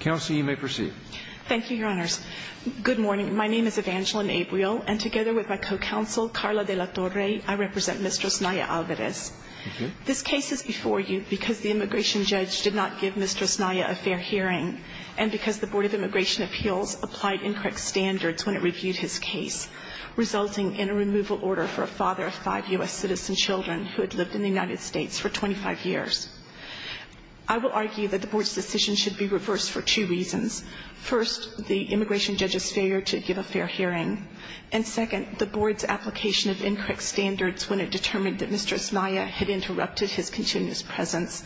Counsel, you may proceed. Thank you, Your Honors. Good morning. My name is Evangeline Abriel, and together with my co-counsel, Carla de la Torre, I represent Mr. Osnaya-Alvarez. This case is before you because the immigration judge did not give Mr. Osnaya a fair hearing and because the Board of Immigration Appeals applied incorrect standards when it reviewed his case, resulting in a removal order for a father of five U.S. citizen children who had lived in the United States for 25 years. I will argue that the Board's decision should be reversed for two reasons. First, the immigration judge's failure to give a fair hearing. And second, the Board's application of incorrect standards when it determined that Mr. Osnaya had interrupted his continuous presence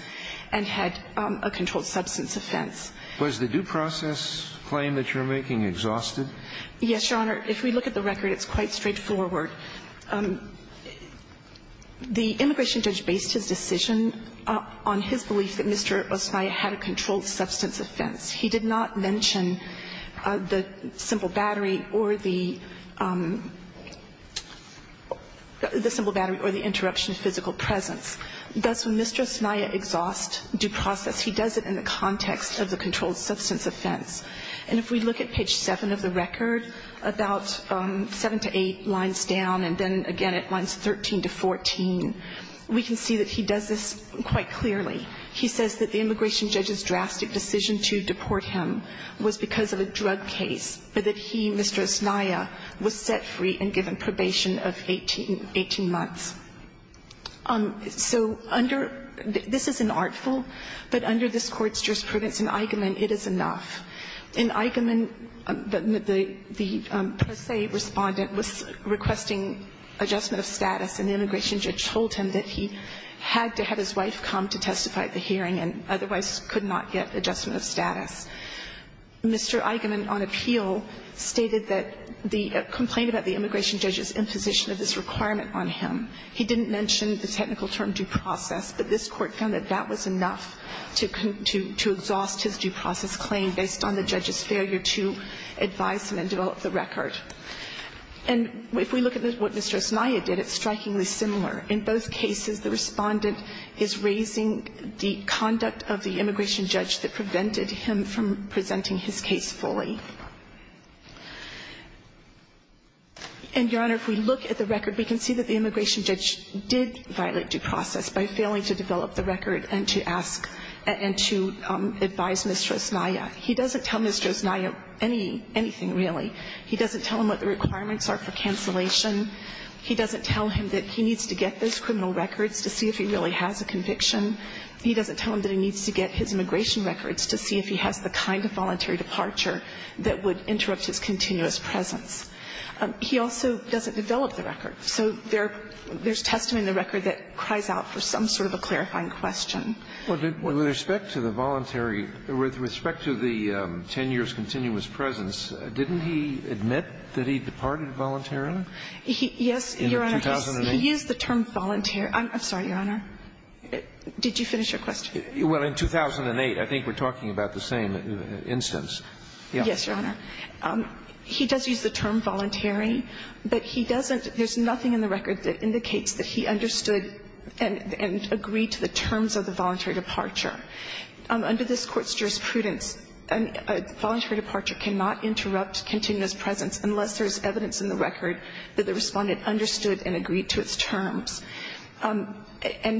and had a controlled substance offense. Was the due process claim that you're making exhausted? Yes, Your Honor. If we look at the record, it's quite straightforward. The immigration judge based his decision on his belief that Mr. Osnaya had a controlled substance offense. He did not mention the simple battery or the the simple battery or the interruption of physical presence. Thus, when Mr. Osnaya exhausts due process, he does it in the context of the controlled substance offense. And if we look at page 7 of the record, about 7 to 8 lines down, and then again at lines 13 to 14, we can see that he does this quite clearly. He says that the immigration judge's drastic decision to deport him was because of a drug case, but that he, Mr. Osnaya, was set free and given probation of 18 months. So under this is an artful, but under this Court's jurisprudence and argument, it is enough. In Eichemann, the pro se respondent was requesting adjustment of status, and the immigration judge told him that he had to have his wife come to testify at the hearing and otherwise could not get adjustment of status. Mr. Eichemann, on appeal, stated that the complaint about the immigration judge's imposition of this requirement on him, he didn't mention the technical term due process, but this Court found that that was enough to exhaust his due process claim based on the judge's failure to advise him and develop the record. And if we look at what Mr. Osnaya did, it's strikingly similar. In both cases, the respondent is raising the conduct of the immigration judge that prevented him from presenting his case fully. And, Your Honor, if we look at the record, we can see that the immigration judge is trying to develop the record and to ask and to advise Mr. Osnaya. He doesn't tell Mr. Osnaya anything, really. He doesn't tell him what the requirements are for cancellation. He doesn't tell him that he needs to get those criminal records to see if he really has a conviction. He doesn't tell him that he needs to get his immigration records to see if he has the kind of voluntary departure that would interrupt his continuous presence. He also doesn't develop the record. So there's testimony in the record that cries out for some sort of a clarifying question. Well, with respect to the voluntary, with respect to the 10 years' continuous presence, didn't he admit that he departed voluntarily? Yes, Your Honor. In 2008? He used the term voluntary. I'm sorry, Your Honor. Did you finish your question? Yes, Your Honor. He does use the term voluntary, but he doesn't – there's nothing in the record that indicates that he understood and agreed to the terms of the voluntary departure. Under this Court's jurisprudence, a voluntary departure cannot interrupt continuous presence unless there's evidence in the record that the respondent understood and agreed to its terms. And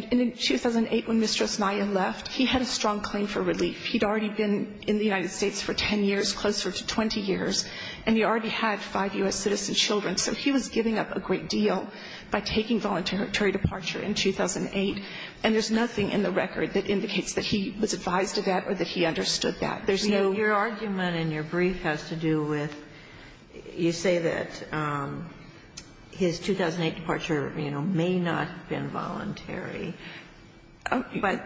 in 2008, when Mr. Osnaya left, he had a strong claim for relief. He'd already been in the United States for 10 years, closer to 20 years, and he already had five U.S. citizen children. So he was giving up a great deal by taking voluntary departure in 2008. And there's nothing in the record that indicates that he was advised of that or that he understood that. There's no – Your argument in your brief has to do with you say that his 2008 departure, you know, may not have been voluntary. But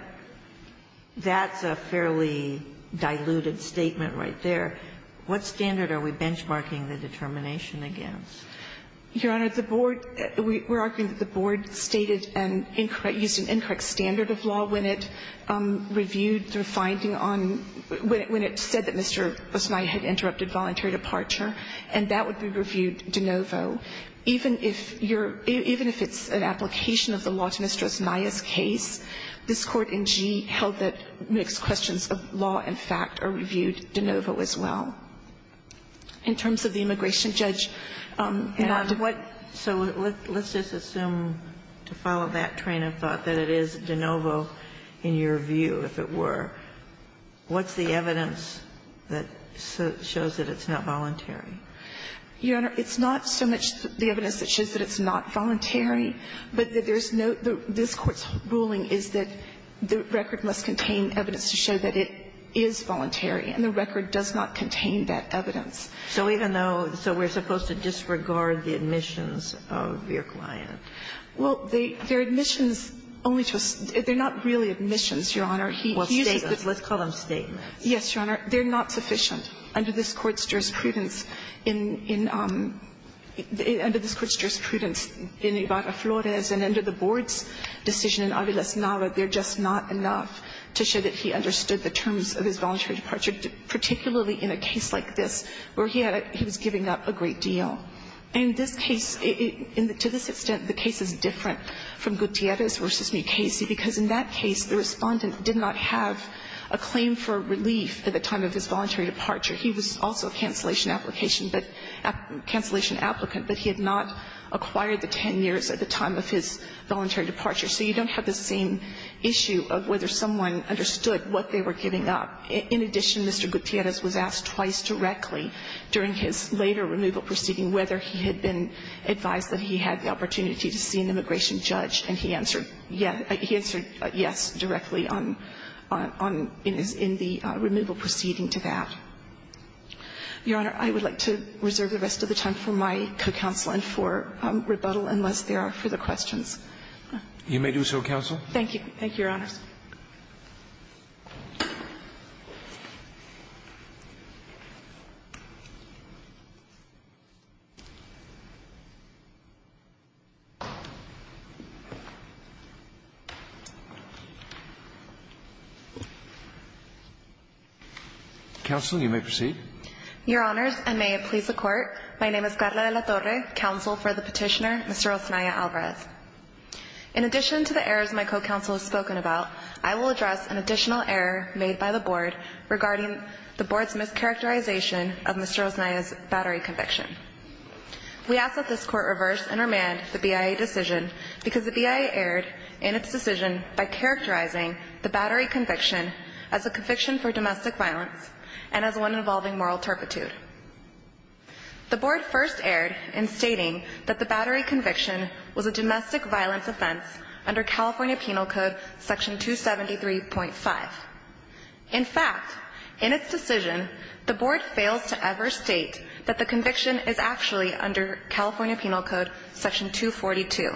that's a fairly diluted statement right there. What standard are we benchmarking the determination against? Your Honor, the board – we're arguing that the board stated and incorrect – used an incorrect standard of law when it reviewed the finding on – when it said that Mr. Osnaya had interrupted voluntary departure, and that would be reviewed de novo. Even if you're – even if it's an application of the law to Mr. Osnaya's case, this Court in G held that mixed questions of law and fact are reviewed de novo as well. In terms of the immigration judge not to – And what – so let's just assume, to follow that train of thought, that it is de novo in your view, if it were. What's the evidence that shows that it's not voluntary? Your Honor, it's not so much the evidence that shows that it's not voluntary, but that there's no – this Court's ruling is that the record must contain evidence to show that it is voluntary. And the record does not contain that evidence. So even though – so we're supposed to disregard the admissions of your client? Well, they're admissions only to – they're not really admissions, Your Honor. Well, statements. Let's call them statements. Yes, Your Honor. They're not sufficient. Under this Court's jurisprudence in – under this Court's jurisprudence in Ibarra-Flores and under the Board's decision in Aviles-Nava, they're just not enough to show that he understood the terms of his voluntary departure, particularly in a case like this where he had – he was giving up a great deal. And this case – to this extent, the case is different from Gutierrez v. Mukasey, because in that case, the Respondent did not have a claim for relief at the time of his voluntary departure. He was also a cancellation application, but – cancellation applicant, but he had not acquired the 10 years at the time of his voluntary departure. So you don't have the same issue of whether someone understood what they were giving up. In addition, Mr. Gutierrez was asked twice directly during his later removal proceeding whether he had been advised that he had the opportunity to see an immigration judge, and he answered yes – he answered yes directly on – on – in his – in the removal proceeding to that. Your Honor, I would like to reserve the rest of the time for my co-counsel and for rebuttal unless there are further questions. Roberts. You may do so, counsel. Thank you, Your Honors. Counsel, you may proceed. Your Honors, and may it please the Court, my name is Karla de la Torre, counsel for the Petitioner, Mr. Osanaya Alvarez. In addition to the errors my co-counsel has spoken about, I will address an additional error made by the Board regarding the Board's mischaracterization of Mr. Osanaya's battery conviction. We ask that this Court reverse and remand the BIA decision because the BIA erred in its decision by characterizing the battery conviction as a conviction for domestic violence and as one involving moral turpitude. The Board first erred in stating that the battery conviction was a domestic violence offense under California Penal Code Section 273.5. In fact, in its decision, the Board fails to ever state that the conviction is actually under California Penal Code Section 242.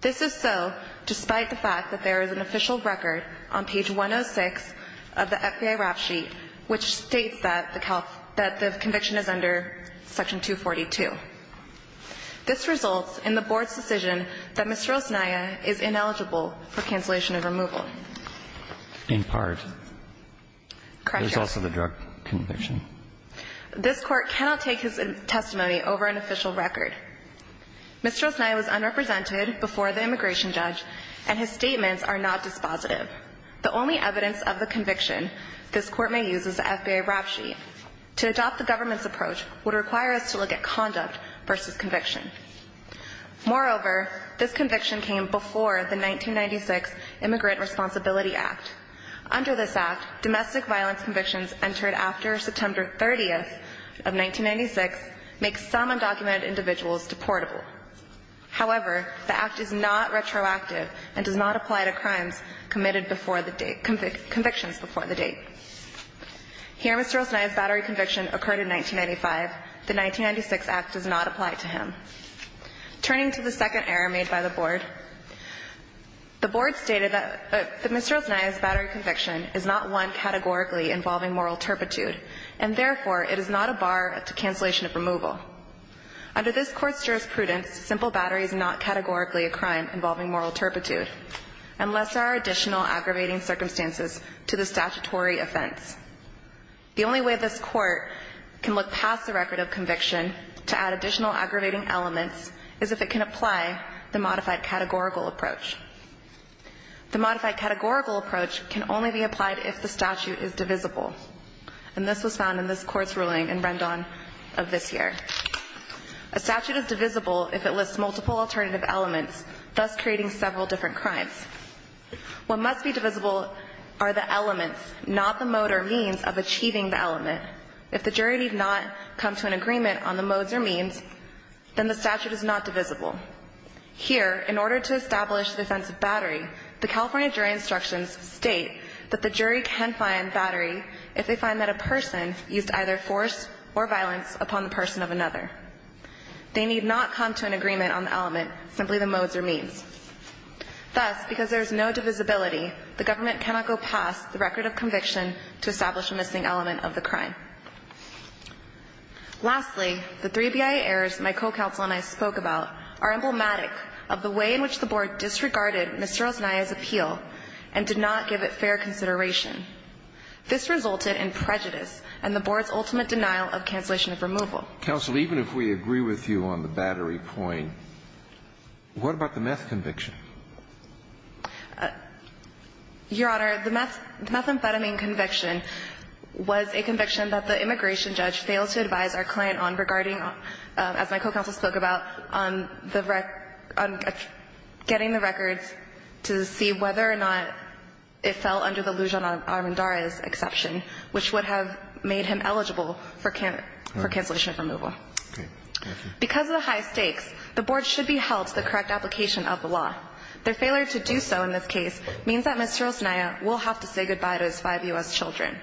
This is so despite the fact that there is an official record on page 106 of the record stating that the conviction is under Section 242. This results in the Board's decision that Mr. Osanaya is ineligible for cancellation of removal. In part. Correct, Your Honor. There's also the drug conviction. This Court cannot take his testimony over an official record. Mr. Osanaya was unrepresented before the immigration judge, and his statements are not dispositive. The only evidence of the conviction this Court may use is the FBI rap sheet. To adopt the government's approach would require us to look at conduct versus conviction. Moreover, this conviction came before the 1996 Immigrant Responsibility Act. Under this act, domestic violence convictions entered after September 30th of 1996 make some undocumented individuals deportable. However, the act is not retroactive and does not apply to crimes committed before the date, convictions before the date. Here, Mr. Osanaya's battery conviction occurred in 1995. The 1996 act does not apply to him. Turning to the second error made by the Board, the Board stated that Mr. Osanaya's battery conviction is not one categorically involving moral turpitude, and therefore it is not a bar to cancellation of removal. Under this Court's jurisprudence, simple battery is not categorically a crime involving moral turpitude unless there are additional aggravating circumstances to the statutory offense. The only way this Court can look past the record of conviction to add additional aggravating elements is if it can apply the modified categorical approach. The modified categorical approach can only be applied if the statute is divisible, and this was found in this Court's ruling in Rendon of this year. A statute is divisible if it lists multiple alternative elements, thus creating several different crimes. What must be divisible are the elements, not the mode or means of achieving the element. If the jury did not come to an agreement on the modes or means, then the statute is not divisible. Here, in order to establish the offense of battery, the California jury instructions state that the jury can find battery if they find that a person used either force or violence upon the person of another. They need not come to an agreement on the element, simply the modes or means. Thus, because there is no divisibility, the government cannot go past the record of conviction to establish a missing element of the crime. Lastly, the three BIA errors my co-counsel and I spoke about are emblematic of the way in which the Board disregarded Ms. Rosania's appeal and did not give it fair consideration. This resulted in prejudice and the Board's ultimate denial of cancellation of removal. Counsel, even if we agree with you on the battery point, what about the meth conviction? Your Honor, the methamphetamine conviction was a conviction that the immigration judge failed to advise our client on regarding, as my co-counsel spoke about, on the getting the records to see whether or not it fell under the Lujan Armendariz exception, which would have made him eligible for cancellation of removal. Because of the high stakes, the Board should be held to the correct application of the law. Their failure to do so in this case means that Ms. Rosania will have to say goodbye to his five U.S. children.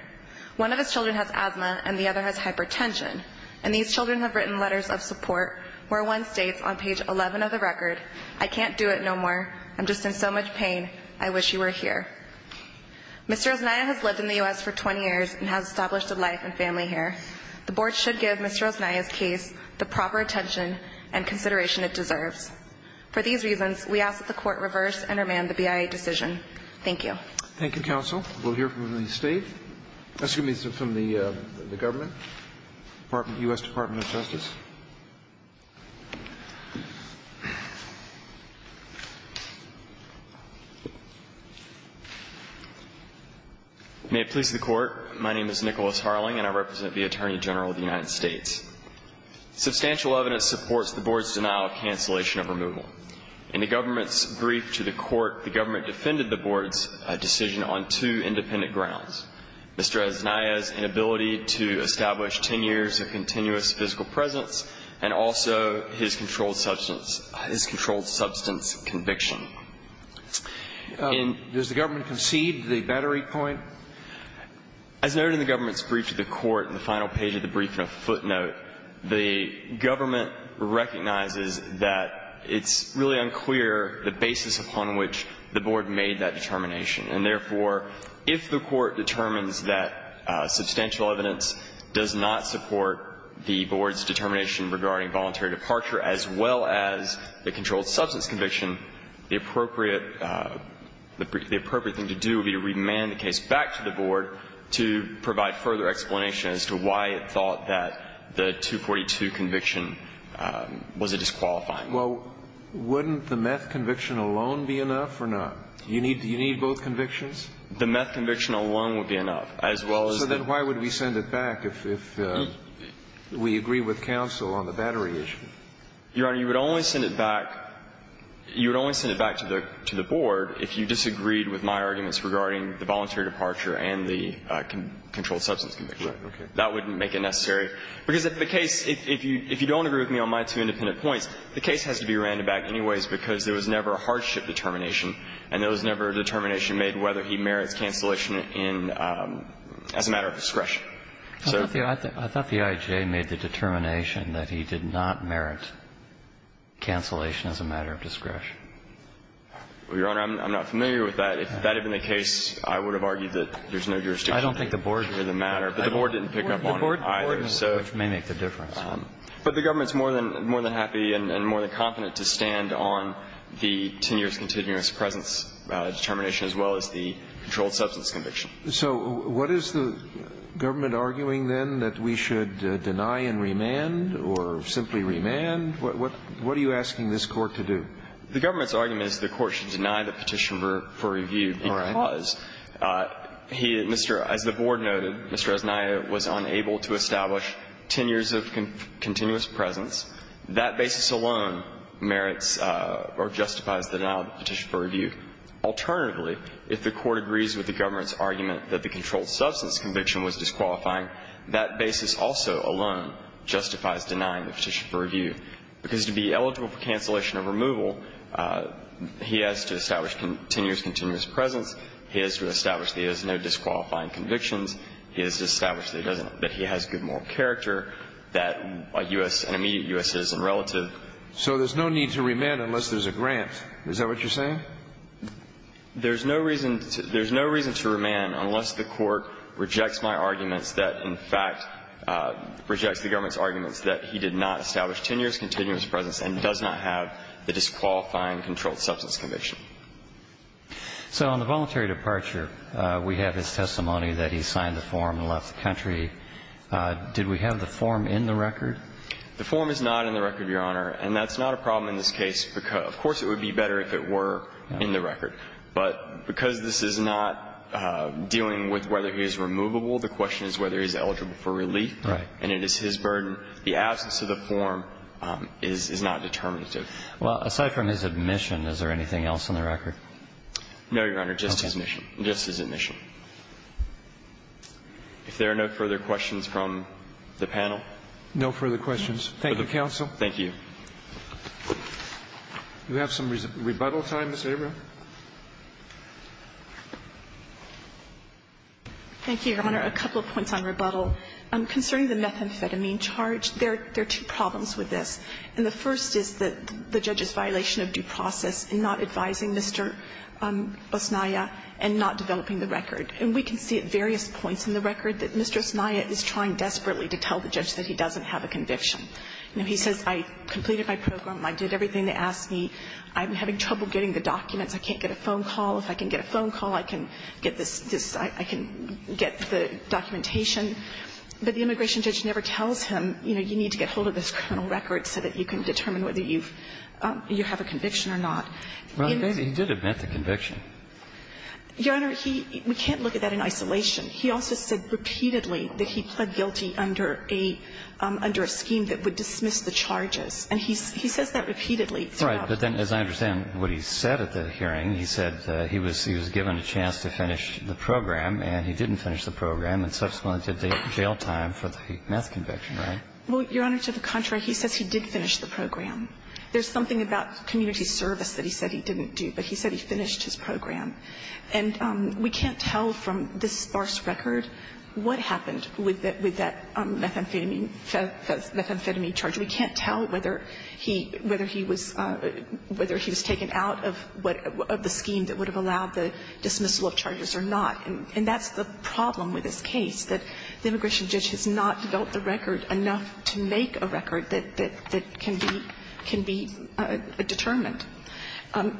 One of his children has asthma and the other has hypertension, and these children have written letters of support where one states on page 11 of the record, I can't do it no more. I'm just in so much pain. I wish you were here. Mr. Rosania has lived in the U.S. for 20 years and has established a life and family here. The Board should give Ms. Rosania's case the proper attention and consideration it deserves. For these reasons, we ask that the Court reverse and remand the BIA decision. Thank you. Thank you, Counsel. We'll hear from the State. Mr. Justice. May it please the Court. My name is Nicholas Harling, and I represent the Attorney General of the United States. Substantial evidence supports the Board's denial of cancellation of removal. In the Government's brief to the Court, the Government defended the Board's decision on two independent grounds. Mr. Rosania's inability to establish 10 years of continuous physical presence and also his controlled substance conviction. Does the Government concede the battery point? As noted in the Government's brief to the Court in the final page of the brief and a footnote, the Government recognizes that it's really unclear the basis upon which the Board made that determination. substantial evidence does not support the Board's determination regarding voluntary departure as well as the controlled substance conviction, the appropriate thing to do would be to remand the case back to the Board to provide further explanation as to why it thought that the 242 conviction was a disqualifying one. Well, wouldn't the meth conviction alone be enough or not? The meth conviction alone would be enough. So then why would we send it back if we agree with counsel on the battery issue? Your Honor, you would only send it back to the Board if you disagreed with my arguments regarding the voluntary departure and the controlled substance conviction. Right. Okay. That wouldn't make it necessary. Because if the case, if you don't agree with me on my two independent points, the case has to be random back anyways because there was never a hardship determination and there was never a determination made whether he merits cancellation in, as a matter of discretion. I thought the IJA made the determination that he did not merit cancellation as a matter of discretion. Well, Your Honor, I'm not familiar with that. If that had been the case, I would have argued that there's no jurisdiction in the matter. I don't think the Board did. But the Board didn't pick up on it either. The Board did, which may make the difference. But the Government's more than happy and more than confident to stand on the 10 years continuous presence determination as well as the controlled substance conviction. So what is the Government arguing, then, that we should deny and remand or simply remand? What are you asking this Court to do? The Government's argument is the Court should deny the petition for review because he, Mr. As the Board noted, Mr. Esnaya was unable to establish 10 years of continuous presence. That basis alone merits or justifies the denial of the petition for review. Alternatively, if the Court agrees with the Government's argument that the controlled substance conviction was disqualifying, that basis also alone justifies denying the petition for review. Because to be eligible for cancellation or removal, he has to establish 10 years continuous presence. He has to establish that he has no disqualifying convictions. He has to establish that he has good moral character, that an immediate U.S. citizen relative. So there's no need to remand unless there's a grant. Is that what you're saying? There's no reason to remand unless the Court rejects my arguments that, in fact, rejects the Government's arguments that he did not establish 10 years continuous presence and does not have the disqualifying controlled substance conviction. So on the voluntary departure, we have his testimony that he signed the form and left the country. Did we have the form in the record? The form is not in the record, Your Honor. And that's not a problem in this case. Of course, it would be better if it were in the record. But because this is not dealing with whether he is removable, the question is whether he is eligible for relief. Right. And it is his burden. The absence of the form is not determinative. Well, aside from his admission, is there anything else in the record? No, Your Honor, just his admission. Just his admission. If there are no further questions from the panel. No further questions. Thank you, counsel. Thank you. Do we have some rebuttal time, Ms. Abram? Thank you, Your Honor. A couple of points on rebuttal. Concerning the methamphetamine charge, there are two problems with this. And the first is that the judge's violation of due process in not advising Mr. Osnaya and not developing the record. And we can see at various points in the record that Mr. Osnaya is trying desperately to tell the judge that he doesn't have a conviction. You know, he says, I completed my program. I did everything they asked me. I'm having trouble getting the documents. I can't get a phone call. If I can get a phone call, I can get this. I can get the documentation. But the immigration judge never tells him, you know, you need to get hold of this criminal record so that you can determine whether you have a conviction or not. Well, he did admit the conviction. Your Honor, we can't look at that in isolation. He also said repeatedly that he pled guilty under a scheme that would dismiss the charges, and he says that repeatedly throughout. Right. But then, as I understand what he said at the hearing, he said he was given a chance to finish the program, and he didn't finish the program, and subsequently did the jail time for the meth conviction, right? Well, Your Honor, to the contrary, he says he did finish the program. There's something about community service that he said he didn't do, but he said he finished his program. And we can't tell from this sparse record what happened with that methamphetamine charge. We can't tell whether he was taken out of the scheme that would have allowed the dismissal of charges or not. And that's the problem with this case, that the immigration judge has not developed the record enough to make a record that can be determined.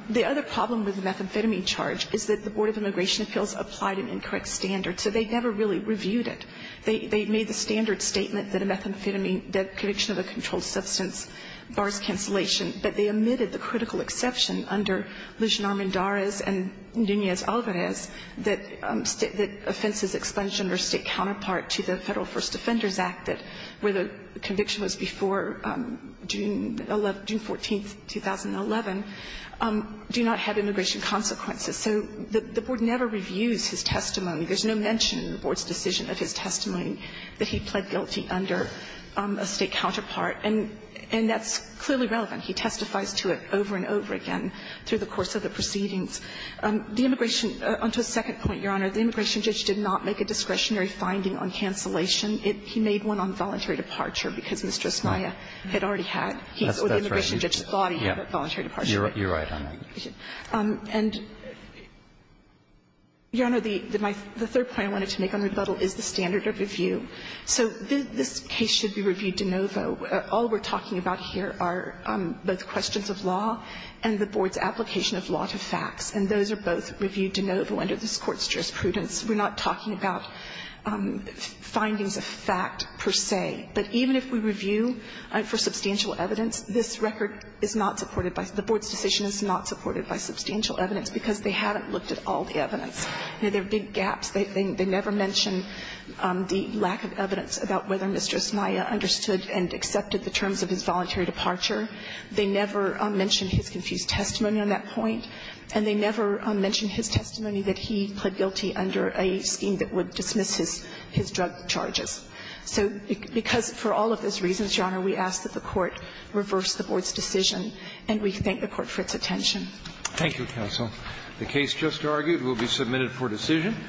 The other problem with the methamphetamine charge is that the Board of Immigration Appeals applied an incorrect standard, so they never really reviewed it. They made the standard statement that a methamphetamine debt conviction of a controlled substance bars cancellation, but they omitted the critical exception under Lujan Armendariz and Nunez-Alvarez that offenses expunged under State counterpart to the Federal First Defenders Act, where the conviction was before June 14th, 2011. Do not have immigration consequences. So the Board never reviews his testimony. There's no mention in the Board's decision of his testimony that he pled guilty under a State counterpart. And that's clearly relevant. He testifies to it over and over again through the course of the proceedings. The immigration – on to a second point, Your Honor. The immigration judge did not make a discretionary finding on cancellation. It – he made one on voluntary departure, because Mr. Esmaya had already had. He – or the immigration judge thought he had a voluntary departure. You're right on that. And, Your Honor, the third point I wanted to make on rebuttal is the standard of review. So this case should be reviewed de novo. All we're talking about here are both questions of law and the Board's application of law to facts. And those are both reviewed de novo under this Court's jurisprudence. We're not talking about findings of fact per se. But even if we review for substantial evidence, this record is not supported by – the Board's decision is not supported by substantial evidence because they haven't looked at all the evidence. There are big gaps. They never mention the lack of evidence about whether Mr. Esmaya understood and accepted the terms of his voluntary departure. They never mention his confused testimony on that point. And they never mention his testimony that he pled guilty under a scheme that would dismiss his drug charges. So because for all of those reasons, Your Honor, we ask that the Court reverse the Board's decision, and we thank the Court for its attention. Thank you, counsel. The case just argued will be submitted for decision.